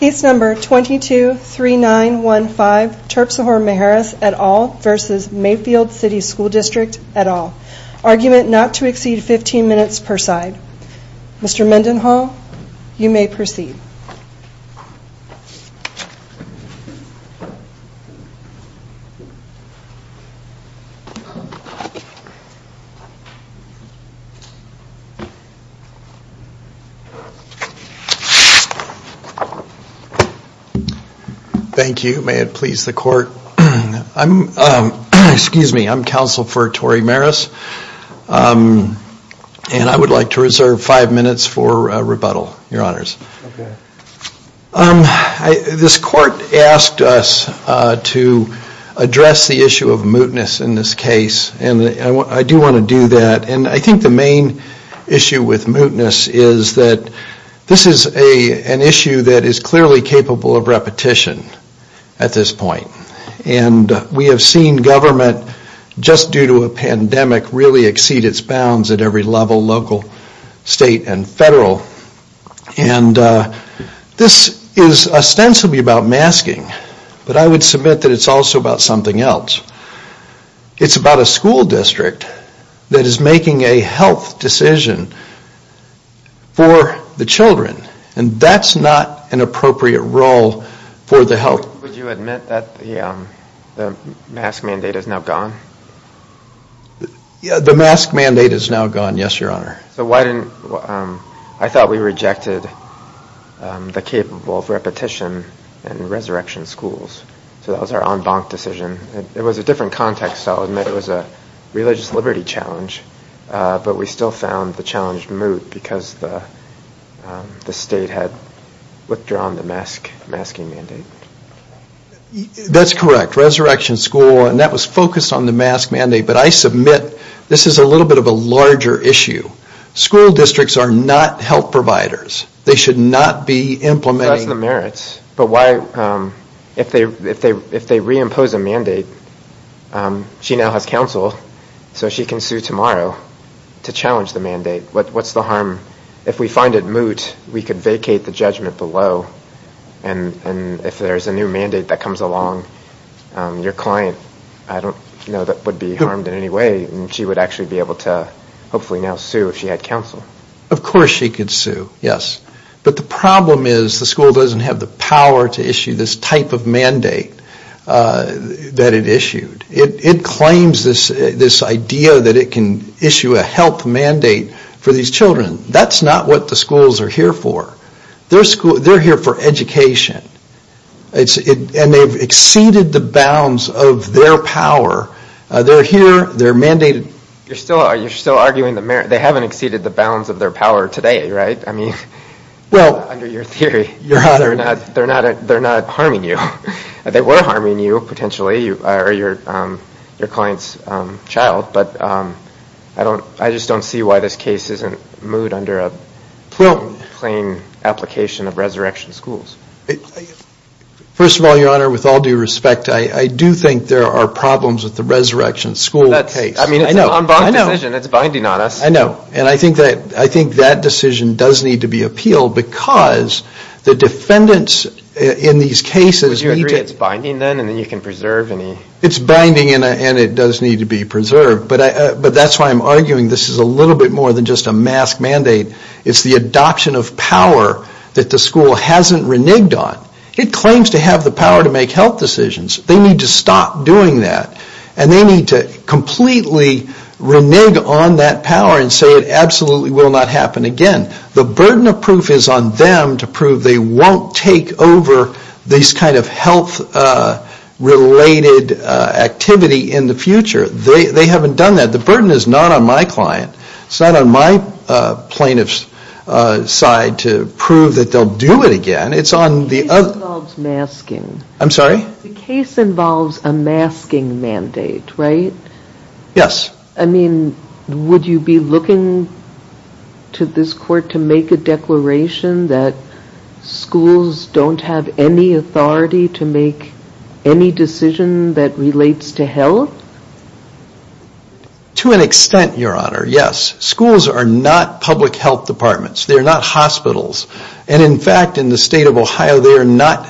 223915 Terpsehore Maras et al v. Mayfield City SD et al Argument not to exceed 15 minutes per side Mr. Mendenhall, you may proceed Thank you. May it please the court. I'm, excuse me, I'm Counsel for Tory Maras and I would like to reserve five minutes for rebuttal, your honors. This court asked us to address the issue of mootness in this case and I do want to do that and I think the main issue with mootness is that this is an issue that is clearly capable of repetition at this point and we have seen government just due to a pandemic really exceed its bounds at every level, local, state, and federal and this is ostensibly about masking but I would submit that it's also about something else. It's about a school district that is making a health decision for the children and that's not an appropriate role for the health. Would you admit that the mask mandate is now gone? The mask mandate is now gone, yes, your honor. So why didn't, I thought we rejected the capable of repetition in resurrection schools so that was our en banc decision. It was a different context, I'll admit, it was a religious liberty challenge but we still found the challenge moot because the state had withdrawn the mask mandate. That's correct, resurrection school, and that was focused on the mask mandate but I submit this is a little bit of a larger issue. School districts are not health providers, they should not be implementing That's the merits, but why, if they reimpose a mandate she now has counsel so she can sue tomorrow to challenge the mandate. What's the harm, if we find it moot, we could vacate the judgment below and if there's a new mandate that comes along, your client, I don't know that would be harmed in any way and she would actually be able to hopefully now sue if she had counsel. Of course she could sue, yes, but the problem is the school doesn't have the power to issue this type of mandate that it issued. It claims this idea that it can issue a health mandate for these children. That's not what the schools are here for. They're here for education, and they've exceeded the bounds of their power. They're here, they're mandated. You're still arguing, they haven't exceeded the bounds of their power today, right? Under your theory, they're not harming you. They were harming you, potentially, or your client's child, but I just don't see why this case isn't moot under a plain application of resurrection schools. First of all, your honor, with all due respect, I do think there are problems with the resurrection school case. It's an en banc decision, it's binding on us. I know, and I think that decision does need to be appealed because the defendants in these cases need to Would you agree it's binding then and you can preserve any It's binding and it does need to be preserved, but that's why I'm arguing this is a little bit more than just a mask mandate. It's the adoption of power that the school hasn't reneged on. It claims to have the power to make health decisions. They need to stop doing that, and they need to completely renege on that power and say it absolutely will not happen again. The burden of proof is on them to prove they won't take over these kind of health-related activity in the future. They haven't done that. The burden is not on my client. It's not on my plaintiff's side to prove that they'll do it again. It's on the other The case involves masking. I'm sorry? The case involves a masking mandate, right? Yes. I mean, would you be looking to this court to make a declaration that schools don't have any authority to make any decision that relates to health? To an extent, Your Honor, yes. Schools are not public health departments. They're not hospitals. In fact, in the state of Ohio, we are not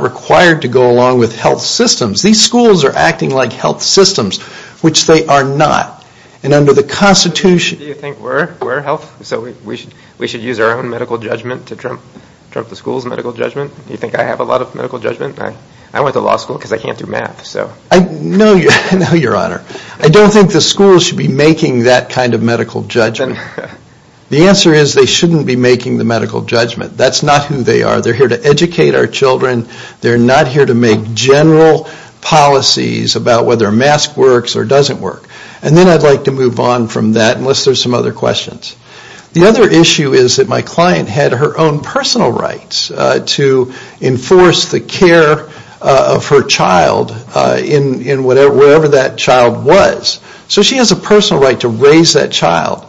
required to go along with health systems. These schools are acting like health systems, which they are not. Do you think we're health? We should use our own medical judgment to trump the school's medical judgment? Do you think I have a lot of medical judgment? I went to law school because I can't do math. No, Your Honor. I don't think the school should be making that kind of medical judgment. The answer is they shouldn't be making the medical judgment. That's not who they are. They're here to educate our children. They're not here to make general policies about whether a mask works or doesn't work. And then I'd like to move on from that unless there's some other questions. The other issue is that my client had her own personal rights to enforce the care of her child in whatever that child was. So she has a personal right to raise that child.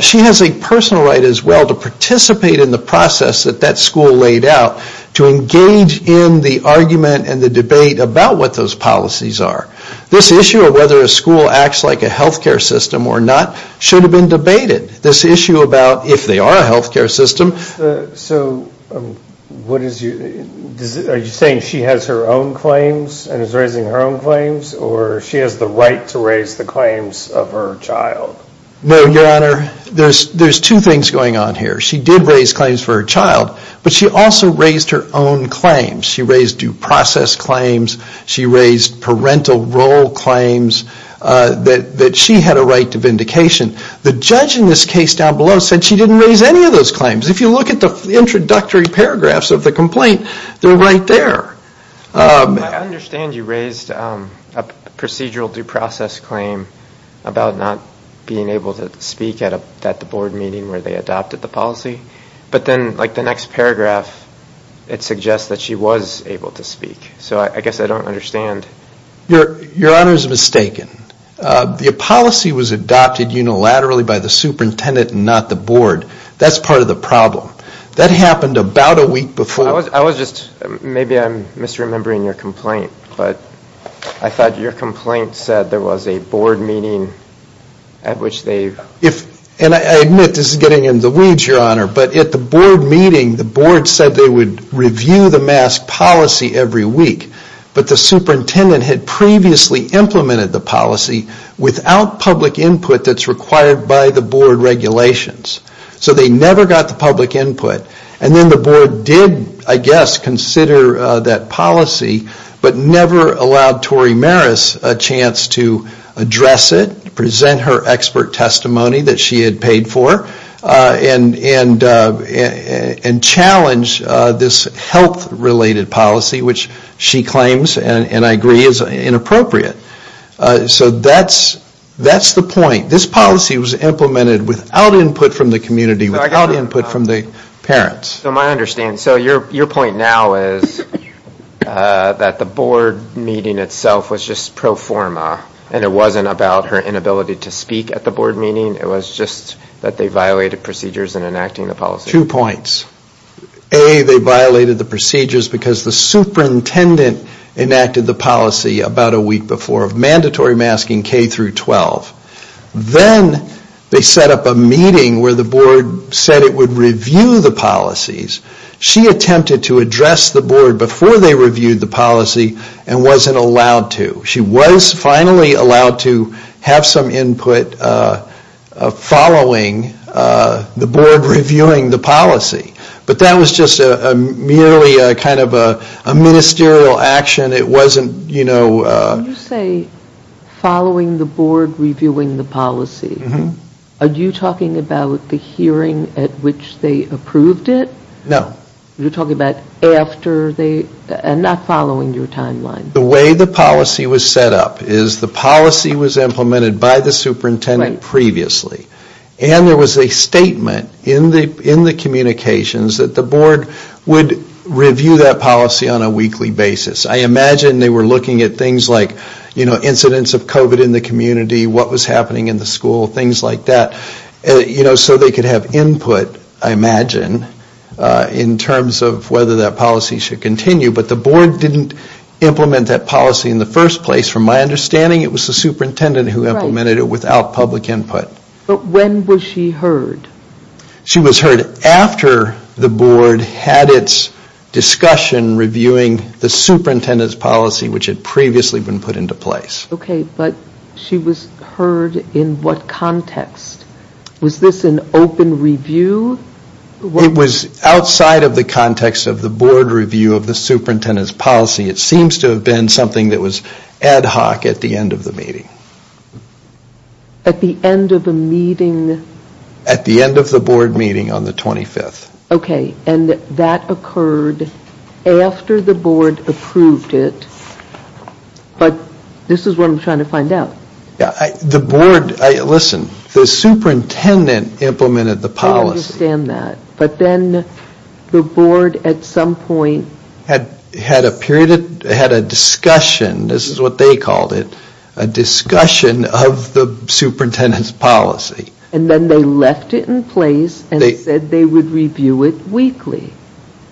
She has a personal right as well to participate in the process that that school laid out, to engage in the argument and the debate about what those policies are. This issue of whether a school acts like a health care system or not should have been debated. This issue about if they are a health care system. So are you saying she has her own claims and is raising her own claims or she has the right to raise the claims of her child? No, Your Honor. There's two things going on here. She did raise claims for her child, but she also raised her own claims. She raised due process claims. She raised parental role claims that she had a right to vindication. The judge in this case down below said she didn't raise any of those claims. If you look at the introductory paragraphs of the complaint, they're right there. I understand you raised a procedural due process claim about not being able to speak at the board meeting where they adopted the policy. But then like the next paragraph, it suggests that she was able to speak. So I guess I don't understand. Your Honor is mistaken. The policy was adopted unilaterally by the superintendent and not the board. That's part of the problem. That happened about a week before. Maybe I'm misremembering your complaint, but I thought your complaint said there was a board meeting at which they... I admit this is getting in the weeds, Your Honor, but at the board meeting, the board said they would review the mask policy every week. But the superintendent had previously implemented the policy without public input that's required by the board regulations. So they never got the public input. And then the board did, I guess, consider that policy, but never allowed Tori Marris a chance to address it, present her expert testimony that she had paid for, and challenge this health-related policy, which she claims, and I agree, is inappropriate. So that's the point. This policy was implemented without input from the community, without input from the parents. So my understanding, so your point now is that the board meeting itself was just pro forma, and it wasn't about her inability to speak at the board meeting. It was just that they violated procedures in enacting the policy. Two points. A, they violated the procedures because the superintendent enacted the policy about a week before of mandatory masking K-12. Then they set up a meeting where the board said it would review the policies. She attempted to address the board before they reviewed the policy and wasn't allowed to. She was finally allowed to have some input following the board reviewing the policy. But that was just merely kind of a ministerial action. It wasn't, you know. You say following the board reviewing the policy. Are you talking about the hearing at which they approved it? No. You're talking about after they, and not following your timeline. The way the policy was set up is the policy was implemented by the superintendent previously. And there was a statement in the communications that the board would review that policy on a weekly basis. I imagine they were looking at things like, you know, incidents of COVID in the community, what was happening in the school, things like that. You know, so they could have input, I imagine, in terms of whether that policy should continue. But the board didn't implement that policy in the first place. From my understanding, it was the superintendent who implemented it without public input. But when was she heard? She was heard after the board had its discussion reviewing the superintendent's policy, which had previously been put into place. Okay, but she was heard in what context? Was this an open review? It was outside of the context of the board review of the superintendent's policy. It seems to have been something that was ad hoc at the end of the meeting. At the end of the meeting? At the end of the board meeting on the 25th. Okay, and that occurred after the board approved it, but this is what I'm trying to find out. The board, listen, the superintendent implemented the policy. I understand that, but then the board at some point had a period, had a discussion, this is what they called it, a discussion of the superintendent's policy. And then they left it in place and said they would review it weekly.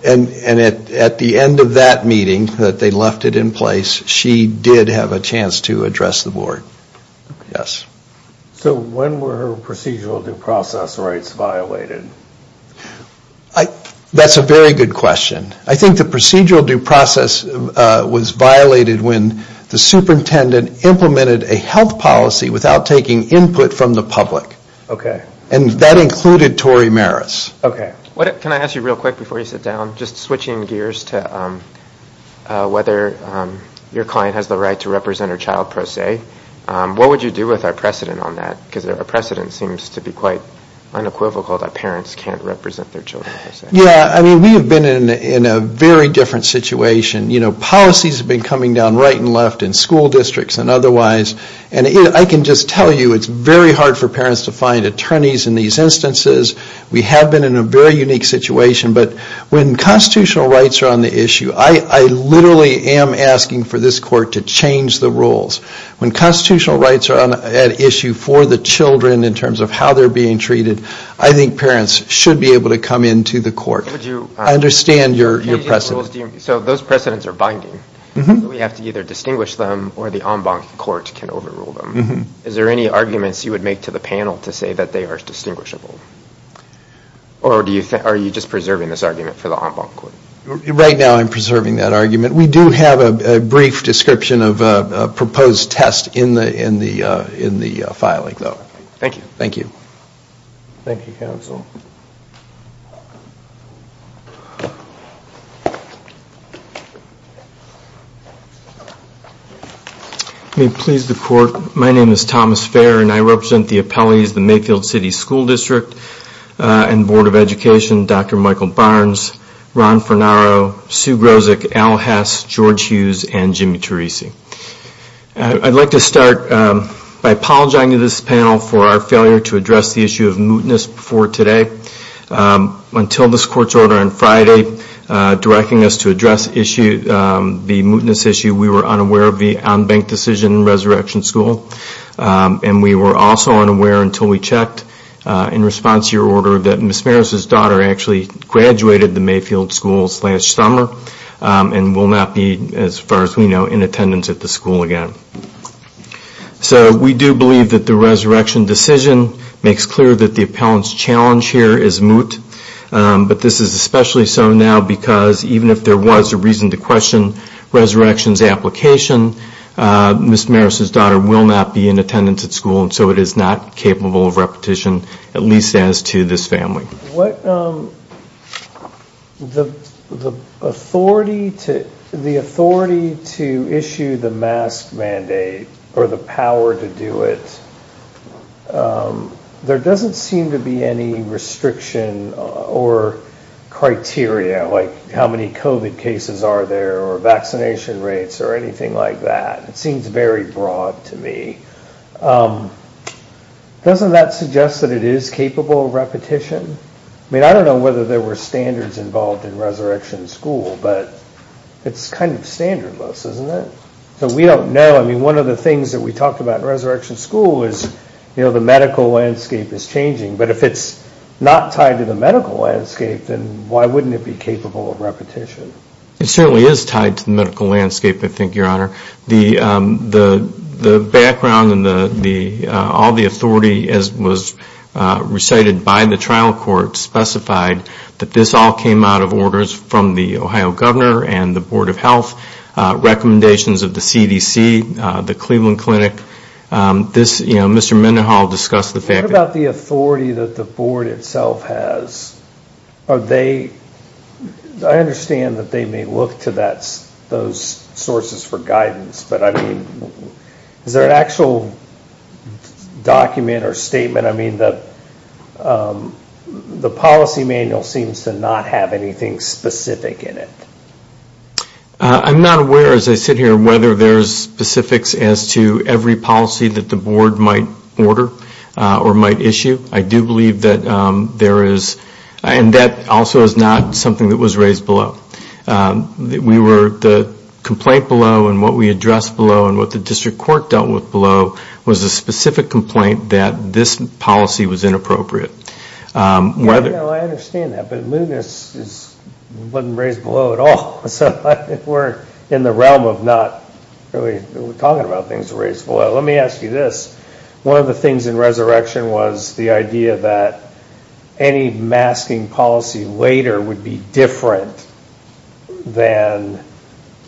And at the end of that meeting that they left it in place, she did have a chance to address the board. So when were her procedural due process rights violated? That's a very good question. I think the procedural due process was violated when the superintendent implemented a health policy without taking input from the public. Okay. And that included Tory Maris. Okay. Can I ask you real quick before you sit down, just switching gears to whether your client has the right to represent her child per se. What would you do with our precedent on that? Because our precedent seems to be quite unequivocal that parents can't represent their children per se. Yeah, I mean we have been in a very different situation. You know, policies have been coming down right and left in school districts and otherwise. And I can just tell you it's very hard for parents to find attorneys in these instances. We have been in a very unique situation. But when constitutional rights are on the issue, I literally am asking for this court to change the rules. When constitutional rights are at issue for the children in terms of how they're being treated, I think parents should be able to come into the court. I understand your precedent. So those precedents are binding. We have to either distinguish them or the en banc court can overrule them. Is there any arguments you would make to the panel to say that they are distinguishable? Or are you just preserving this argument for the en banc court? Right now I'm preserving that argument. We do have a brief description of a proposed test in the filing, though. Thank you. Thank you. Thank you, counsel. May it please the court, my name is Thomas Fair, and I represent the appellees, the Mayfield City School District and Board of Education, Dr. Michael Barnes, Ron Fornaro, Sue Grozek, Al Hess, George Hughes, and Jimmy Teresi. I'd like to start by apologizing to this panel for our failure to address the issue of mootness before today. Until this court's order on Friday directing us to address the mootness issue, we were unaware of the en banc decision in Resurrection School. And we were also unaware until we checked, in response to your order, that Ms. Maris' daughter actually graduated the Mayfield schools last summer and will not be, as far as we know, in attendance at the school again. So we do believe that the resurrection decision makes clear that the appellant's challenge here is moot. But this is especially so now because even if there was a reason to question resurrection's application, Ms. Maris' daughter will not be in attendance at school, and so it is not capable of repetition, at least as to this family. What the authority to the authority to issue the mask mandate or the power to do it, there doesn't seem to be any restriction or criteria like how many COVID cases are there or vaccination rates or anything like that. It seems very broad to me. Doesn't that suggest that it is capable of repetition? I mean, I don't know whether there were standards involved in Resurrection School, but it's kind of standardless, isn't it? So we don't know. I mean, one of the things that we talked about in Resurrection School is, you know, the medical landscape is changing. But if it's not tied to the medical landscape, then why wouldn't it be capable of repetition? It certainly is tied to the medical landscape, I think, Your Honor. The background and all the authority as was recited by the trial court specified that this all came out of orders from the Ohio Governor and the Board of Health, recommendations of the CDC, the Cleveland Clinic. This, you know, Mr. Mendenhall discussed the fact that- I understand that they may look to those sources for guidance. But I mean, is there an actual document or statement? I mean, the policy manual seems to not have anything specific in it. I'm not aware, as I sit here, whether there's specifics as to every policy that the board might order or might issue. I do believe that there is, and that also is not something that was raised below. We were, the complaint below and what we addressed below and what the district court dealt with below was a specific complaint that this policy was inappropriate. Yeah, I know, I understand that. But it wasn't raised below at all. So we're in the realm of not really talking about things raised below. Let me ask you this. One of the things in resurrection was the idea that any masking policy later would be different than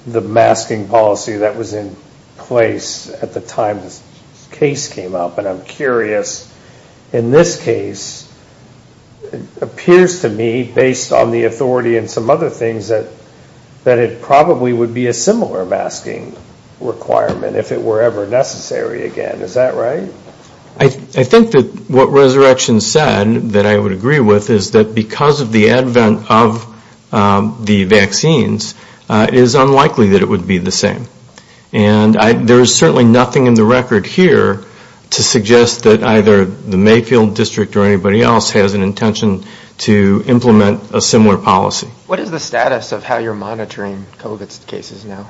the masking policy that was in place at the time this case came up. And I'm curious, in this case, it appears to me based on the authority and some other things that it probably would be a similar masking requirement if it were ever necessary again. Is that right? I think that what resurrection said that I would agree with is that because of the advent of the vaccines, it is unlikely that it would be the same. And there is certainly nothing in the record here to suggest that either the Mayfield district or anybody else has an intention to implement a similar policy. What is the status of how you're monitoring COVID cases now?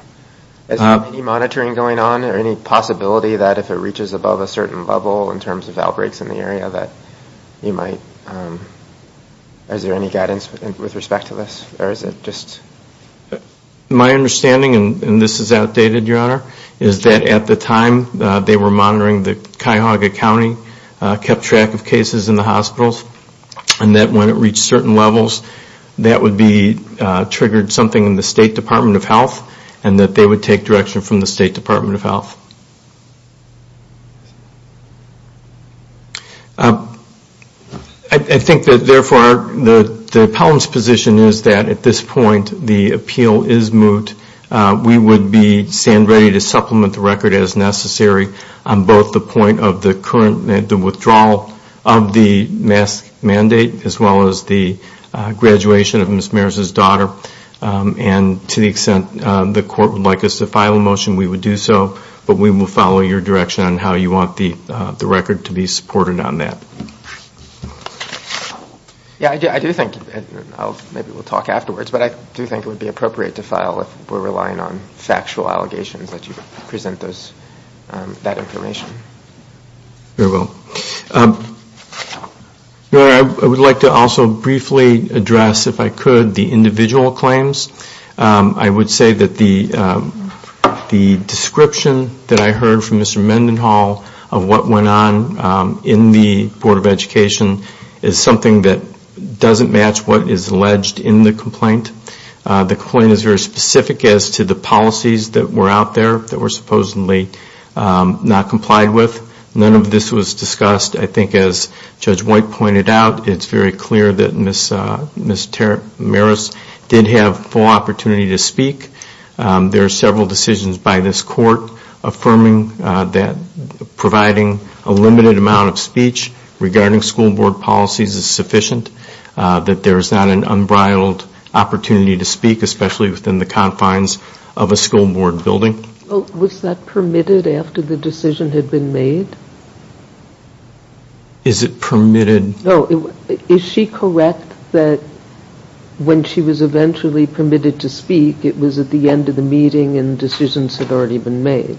Is there any monitoring going on or any possibility that if it reaches above a certain level in terms of outbreaks in the area that you might, is there any guidance with respect to this? Or is it just... My understanding, and this is outdated, Your Honor, is that at the time they were monitoring the Cuyahoga County, kept track of cases in the hospitals, and that when it reached certain levels, that would be triggered something in the State Department of Health and that they would take direction from the State Department of Health. I think that, therefore, the appellant's position is that at this point the appeal is moot. We would stand ready to supplement the record as necessary on both the point of the current withdrawal of the mask mandate as well as the graduation of Ms. Maris' daughter. And to the extent the court would like us to file a motion, we would do so. But we will follow your direction on how you want the record to be supported on that. Yeah, I do think, and maybe we'll talk afterwards, but I do think it would be appropriate to file if we're relying on factual allegations that you present that information. Very well. Your Honor, I would like to also briefly address, if I could, the individual claims. I would say that the description that I heard from Mr. Mendenhall of what went on in the Board of Education is something that doesn't match what is alleged in the complaint. The complaint is very specific as to the policies that were out there that were supposedly not complied with. None of this was discussed. I think as Judge White pointed out, it's very clear that Ms. Maris did have full opportunity to speak. There are several decisions by this court affirming that providing a limited amount of speech regarding school board policies is sufficient, that there is not an unbridled opportunity to speak, especially within the confines of a school board building. Was that permitted after the decision had been made? Is it permitted? Is she correct that when she was eventually permitted to speak, it was at the end of the meeting and decisions had already been made?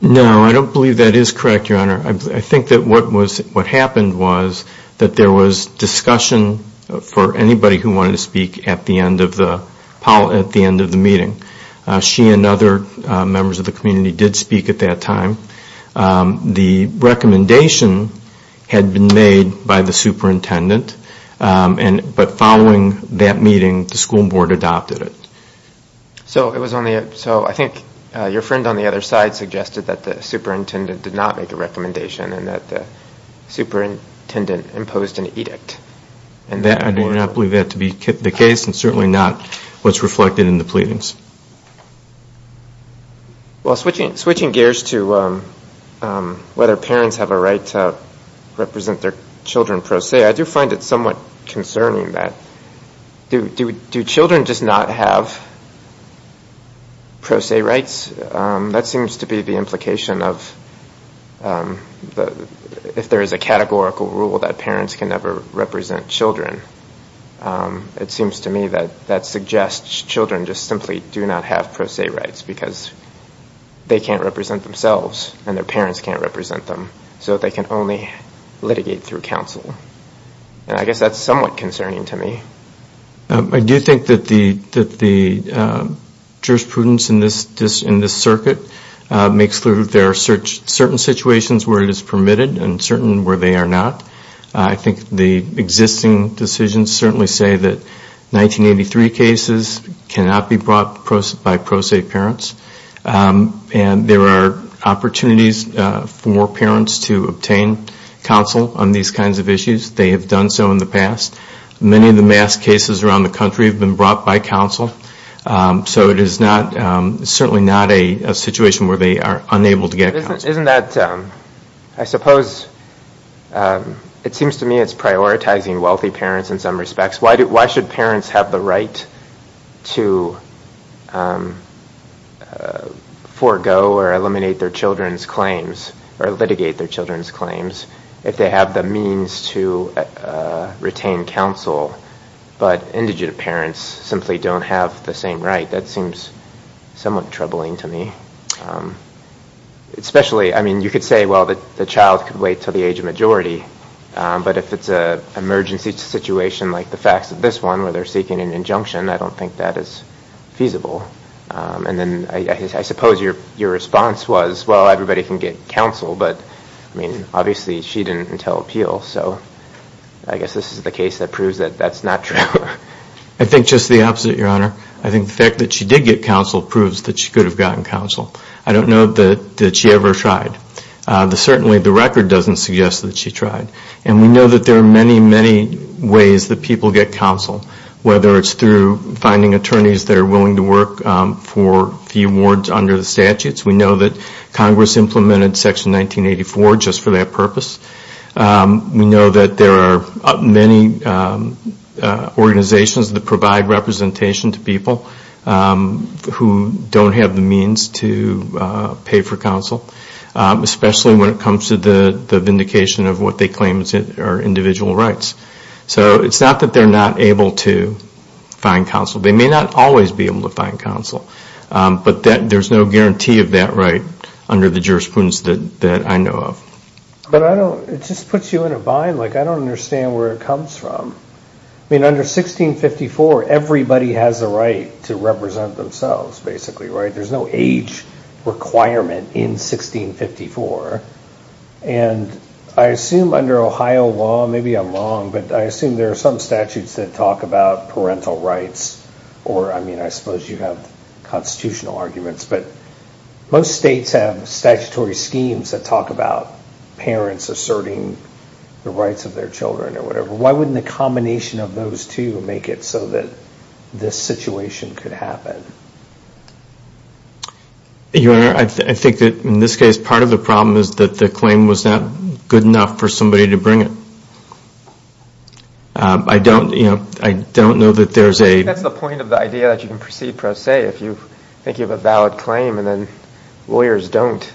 No, I don't believe that is correct, Your Honor. I think that what happened was that there was discussion for anybody who wanted to speak at the end of the meeting. She and other members of the community did speak at that time. The recommendation had been made by the superintendent, but following that meeting, the school board adopted it. So I think your friend on the other side suggested that the superintendent did not make a recommendation and that the superintendent imposed an edict. I do not believe that to be the case and certainly not what is reflected in the pleadings. Switching gears to whether parents have a right to represent their children pro se, I do find it somewhat concerning that do children just not have pro se rights? That seems to be the implication of if there is a categorical rule that parents can never represent children, it seems to me that that suggests children just simply do not have pro se rights because they can't represent themselves and their parents can't represent them, so they can only litigate through counsel. I guess that's somewhat concerning to me. I do think that the jurisprudence in this circuit makes clear that there are certain situations where it is permitted and certain where they are not. I think the existing decisions certainly say that 1983 cases cannot be brought by pro se parents and there are opportunities for parents to obtain counsel on these kinds of issues. They have done so in the past. Many of the mass cases around the country have been brought by counsel, so it is certainly not a situation where they are unable to get counsel. Isn't that, I suppose, it seems to me it's prioritizing wealthy parents in some respects. Why should parents have the right to forego or eliminate their children's claims or litigate their children's claims if they have the means to retain counsel but indigent parents simply don't have the same right? That seems somewhat troubling to me. Especially, I mean, you could say, well, the child could wait until the age of majority, but if it's an emergency situation like the facts of this one where they're seeking an injunction, I don't think that is feasible. And then I suppose your response was, well, everybody can get counsel, but I mean obviously she didn't entail appeal, so I guess this is the case that proves that that's not true. I think just the opposite, Your Honor. I think the fact that she did get counsel proves that she could have gotten counsel. I don't know that she ever tried. Certainly the record doesn't suggest that she tried. And we know that there are many, many ways that people get counsel, whether it's through finding attorneys that are willing to work for the awards under the statutes. We know that Congress implemented Section 1984 just for that purpose. We know that there are many organizations that provide representation to people who don't have the means to pay for counsel, especially when it comes to the vindication of what they claim are individual rights. So it's not that they're not able to find counsel. They may not always be able to find counsel, but there's no guarantee of that right under the jurisprudence that I know of. But it just puts you in a bind. Like, I don't understand where it comes from. I mean, under 1654, everybody has a right to represent themselves, basically, right? There's no age requirement in 1654. And I assume under Ohio law, maybe I'm wrong, but I assume there are some statutes that talk about parental rights, or, I mean, I suppose you have constitutional arguments, but most states have statutory schemes that talk about parents asserting the rights of their children or whatever. Why wouldn't the combination of those two make it so that this situation could happen? Your Honor, I think that in this case, part of the problem is that the claim was not good enough for somebody to bring it. I don't know that there's a... I mean, even today, if you think you have a valid claim and then lawyers don't,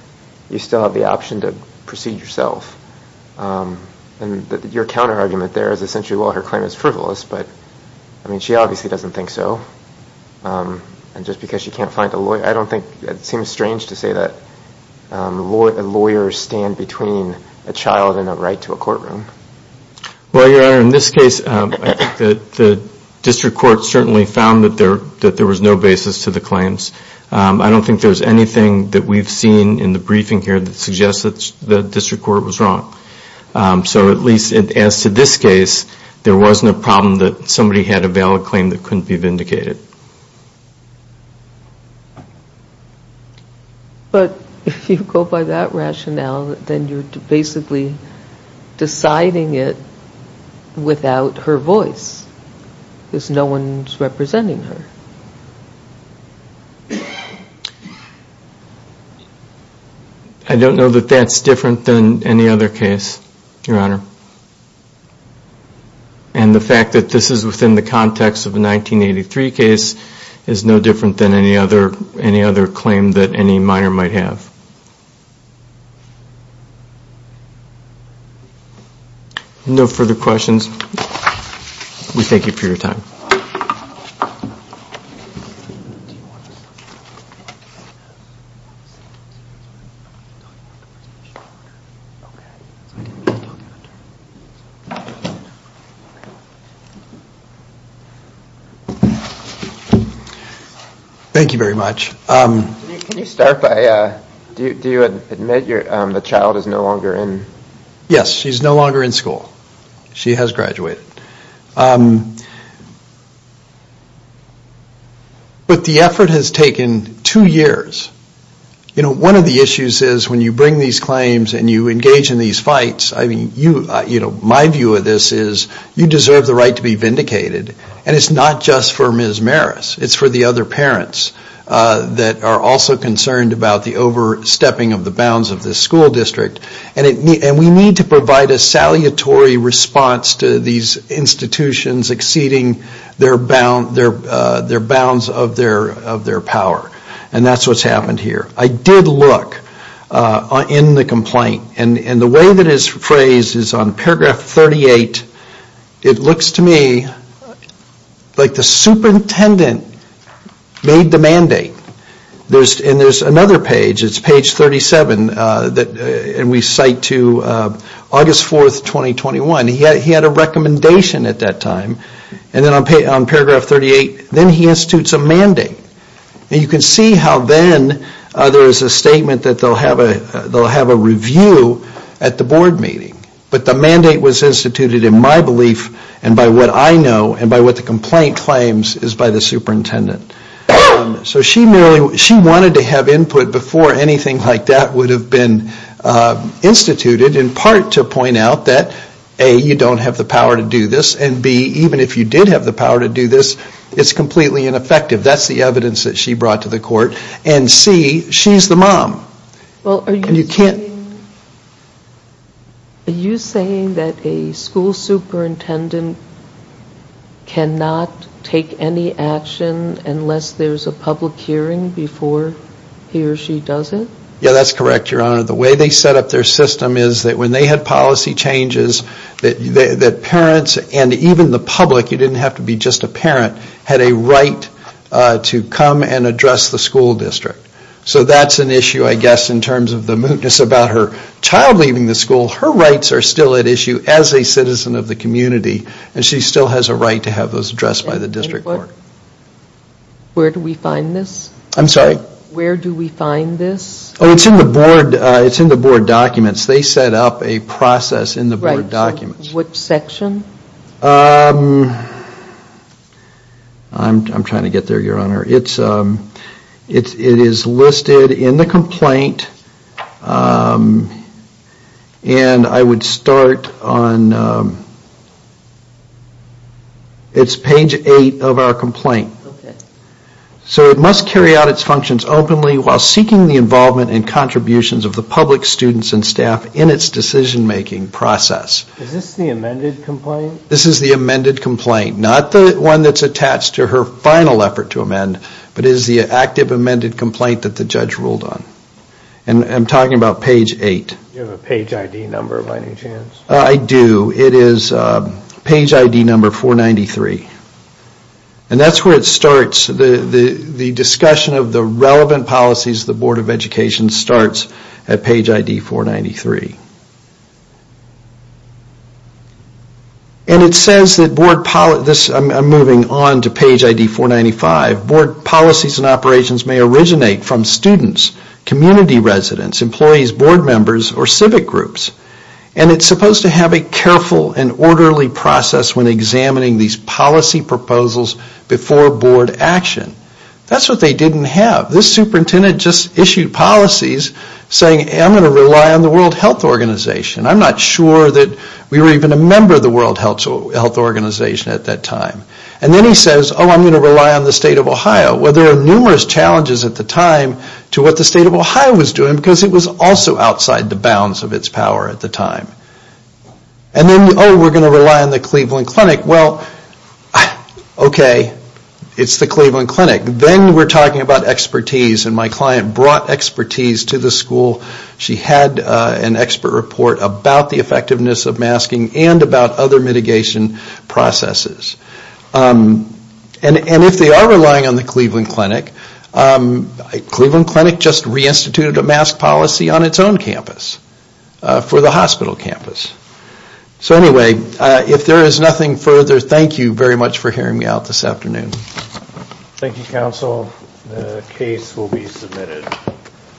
you still have the option to proceed yourself. And your counterargument there is essentially, well, her claim is frivolous, but, I mean, she obviously doesn't think so. And just because she can't find a lawyer, I don't think it seems strange to say that lawyers stand between a child and a right to a courtroom. Well, Your Honor, in this case, I think that the district court certainly found that there was no basis to the claims. I don't think there's anything that we've seen in the briefing here that suggests that the district court was wrong. So at least as to this case, there wasn't a problem that somebody had a valid claim that couldn't be vindicated. But if you go by that rationale, then you're basically deciding it without her voice, because no one's representing her. I don't know that that's different than any other case, Your Honor. And the fact that this is within the context of a 1983 case is no different than any other claim that any minor might have. Thank you. No further questions. We thank you for your time. Thank you very much. Can you start by... Do you admit the child is no longer in... Yes, she's no longer in school. She has graduated. But the effort has taken two years. One of the issues is when you bring these claims and you engage in these fights, my view of this is you deserve the right to be vindicated. And it's not just for Ms. Maris. It's for the other parents that are also concerned about the overstepping of the bounds of this school district. And we need to provide a salutary response to these institutions exceeding their bounds of their power. And that's what's happened here. I did look in the complaint, and the way that it's phrased is on paragraph 38, it looks to me like the superintendent made the mandate. And there's another page, it's page 37, and we cite to August 4th, 2021. He had a recommendation at that time. And then on paragraph 38, then he institutes a mandate. And you can see how then there is a statement that they'll have a review at the board meeting. But the mandate was instituted in my belief and by what I know and by what the complaint claims is by the superintendent. So she wanted to have input before anything like that would have been instituted in part to point out that A, you don't have the power to do this, and B, even if you did have the power to do this, it's completely ineffective. That's the evidence that she brought to the court. And C, she's the mom. And you can't... Are you saying that a school superintendent cannot take any action unless there's a public hearing before he or she does it? Yeah, that's correct, Your Honor. The way they set up their system is that when they had policy changes that parents and even the public, you didn't have to be just a parent, had a right to come and address the school district. So that's an issue, I guess, in terms of the mootness about her child leaving the school. Her rights are still at issue as a citizen of the community and she still has a right to have those addressed by the district court. Where do we find this? I'm sorry? Where do we find this? Oh, it's in the board documents. They set up a process in the board documents. Which section? I'm trying to get there, Your Honor. It is listed in the complaint and I would start on... It's page 8 of our complaint. So it must carry out its functions openly while seeking the involvement and contributions of the public, students, and staff in its decision-making process. Is this the amended complaint? This is the amended complaint. Not the one that's attached to her final effort to amend, but it is the active amended complaint that the judge ruled on. And I'm talking about page 8. Do you have a page ID number by any chance? I do. It is page ID number 493. And that's where it starts. The discussion of the relevant policies of the Board of Education starts at page ID 493. I'm moving on to page ID 495. Board policies and operations may originate from students, community residents, employees, board members, or civic groups. And it's supposed to have a careful and orderly process when examining these policy proposals before board action. That's what they didn't have. This superintendent just issued policies saying, I'm going to rely on the World Health Organization. I'm not sure that we were even a member of the World Health Organization at that time. And then he says, oh, I'm going to rely on the state of Ohio. Well, there are numerous challenges at the time to what the state of Ohio was doing because it was also outside the bounds of its power at the time. And then, oh, we're going to rely on the Cleveland Clinic. Well, okay, it's the Cleveland Clinic. Then we're talking about expertise. And my client brought expertise to the school. She had an expert report about the effectiveness of masking and about other mitigation processes. And if they are relying on the Cleveland Clinic, Cleveland Clinic just reinstituted a mask policy on its own campus for the hospital campus. So anyway, if there is nothing further, thank you very much for hearing me out this afternoon. Thank you, counsel. The case will be submitted.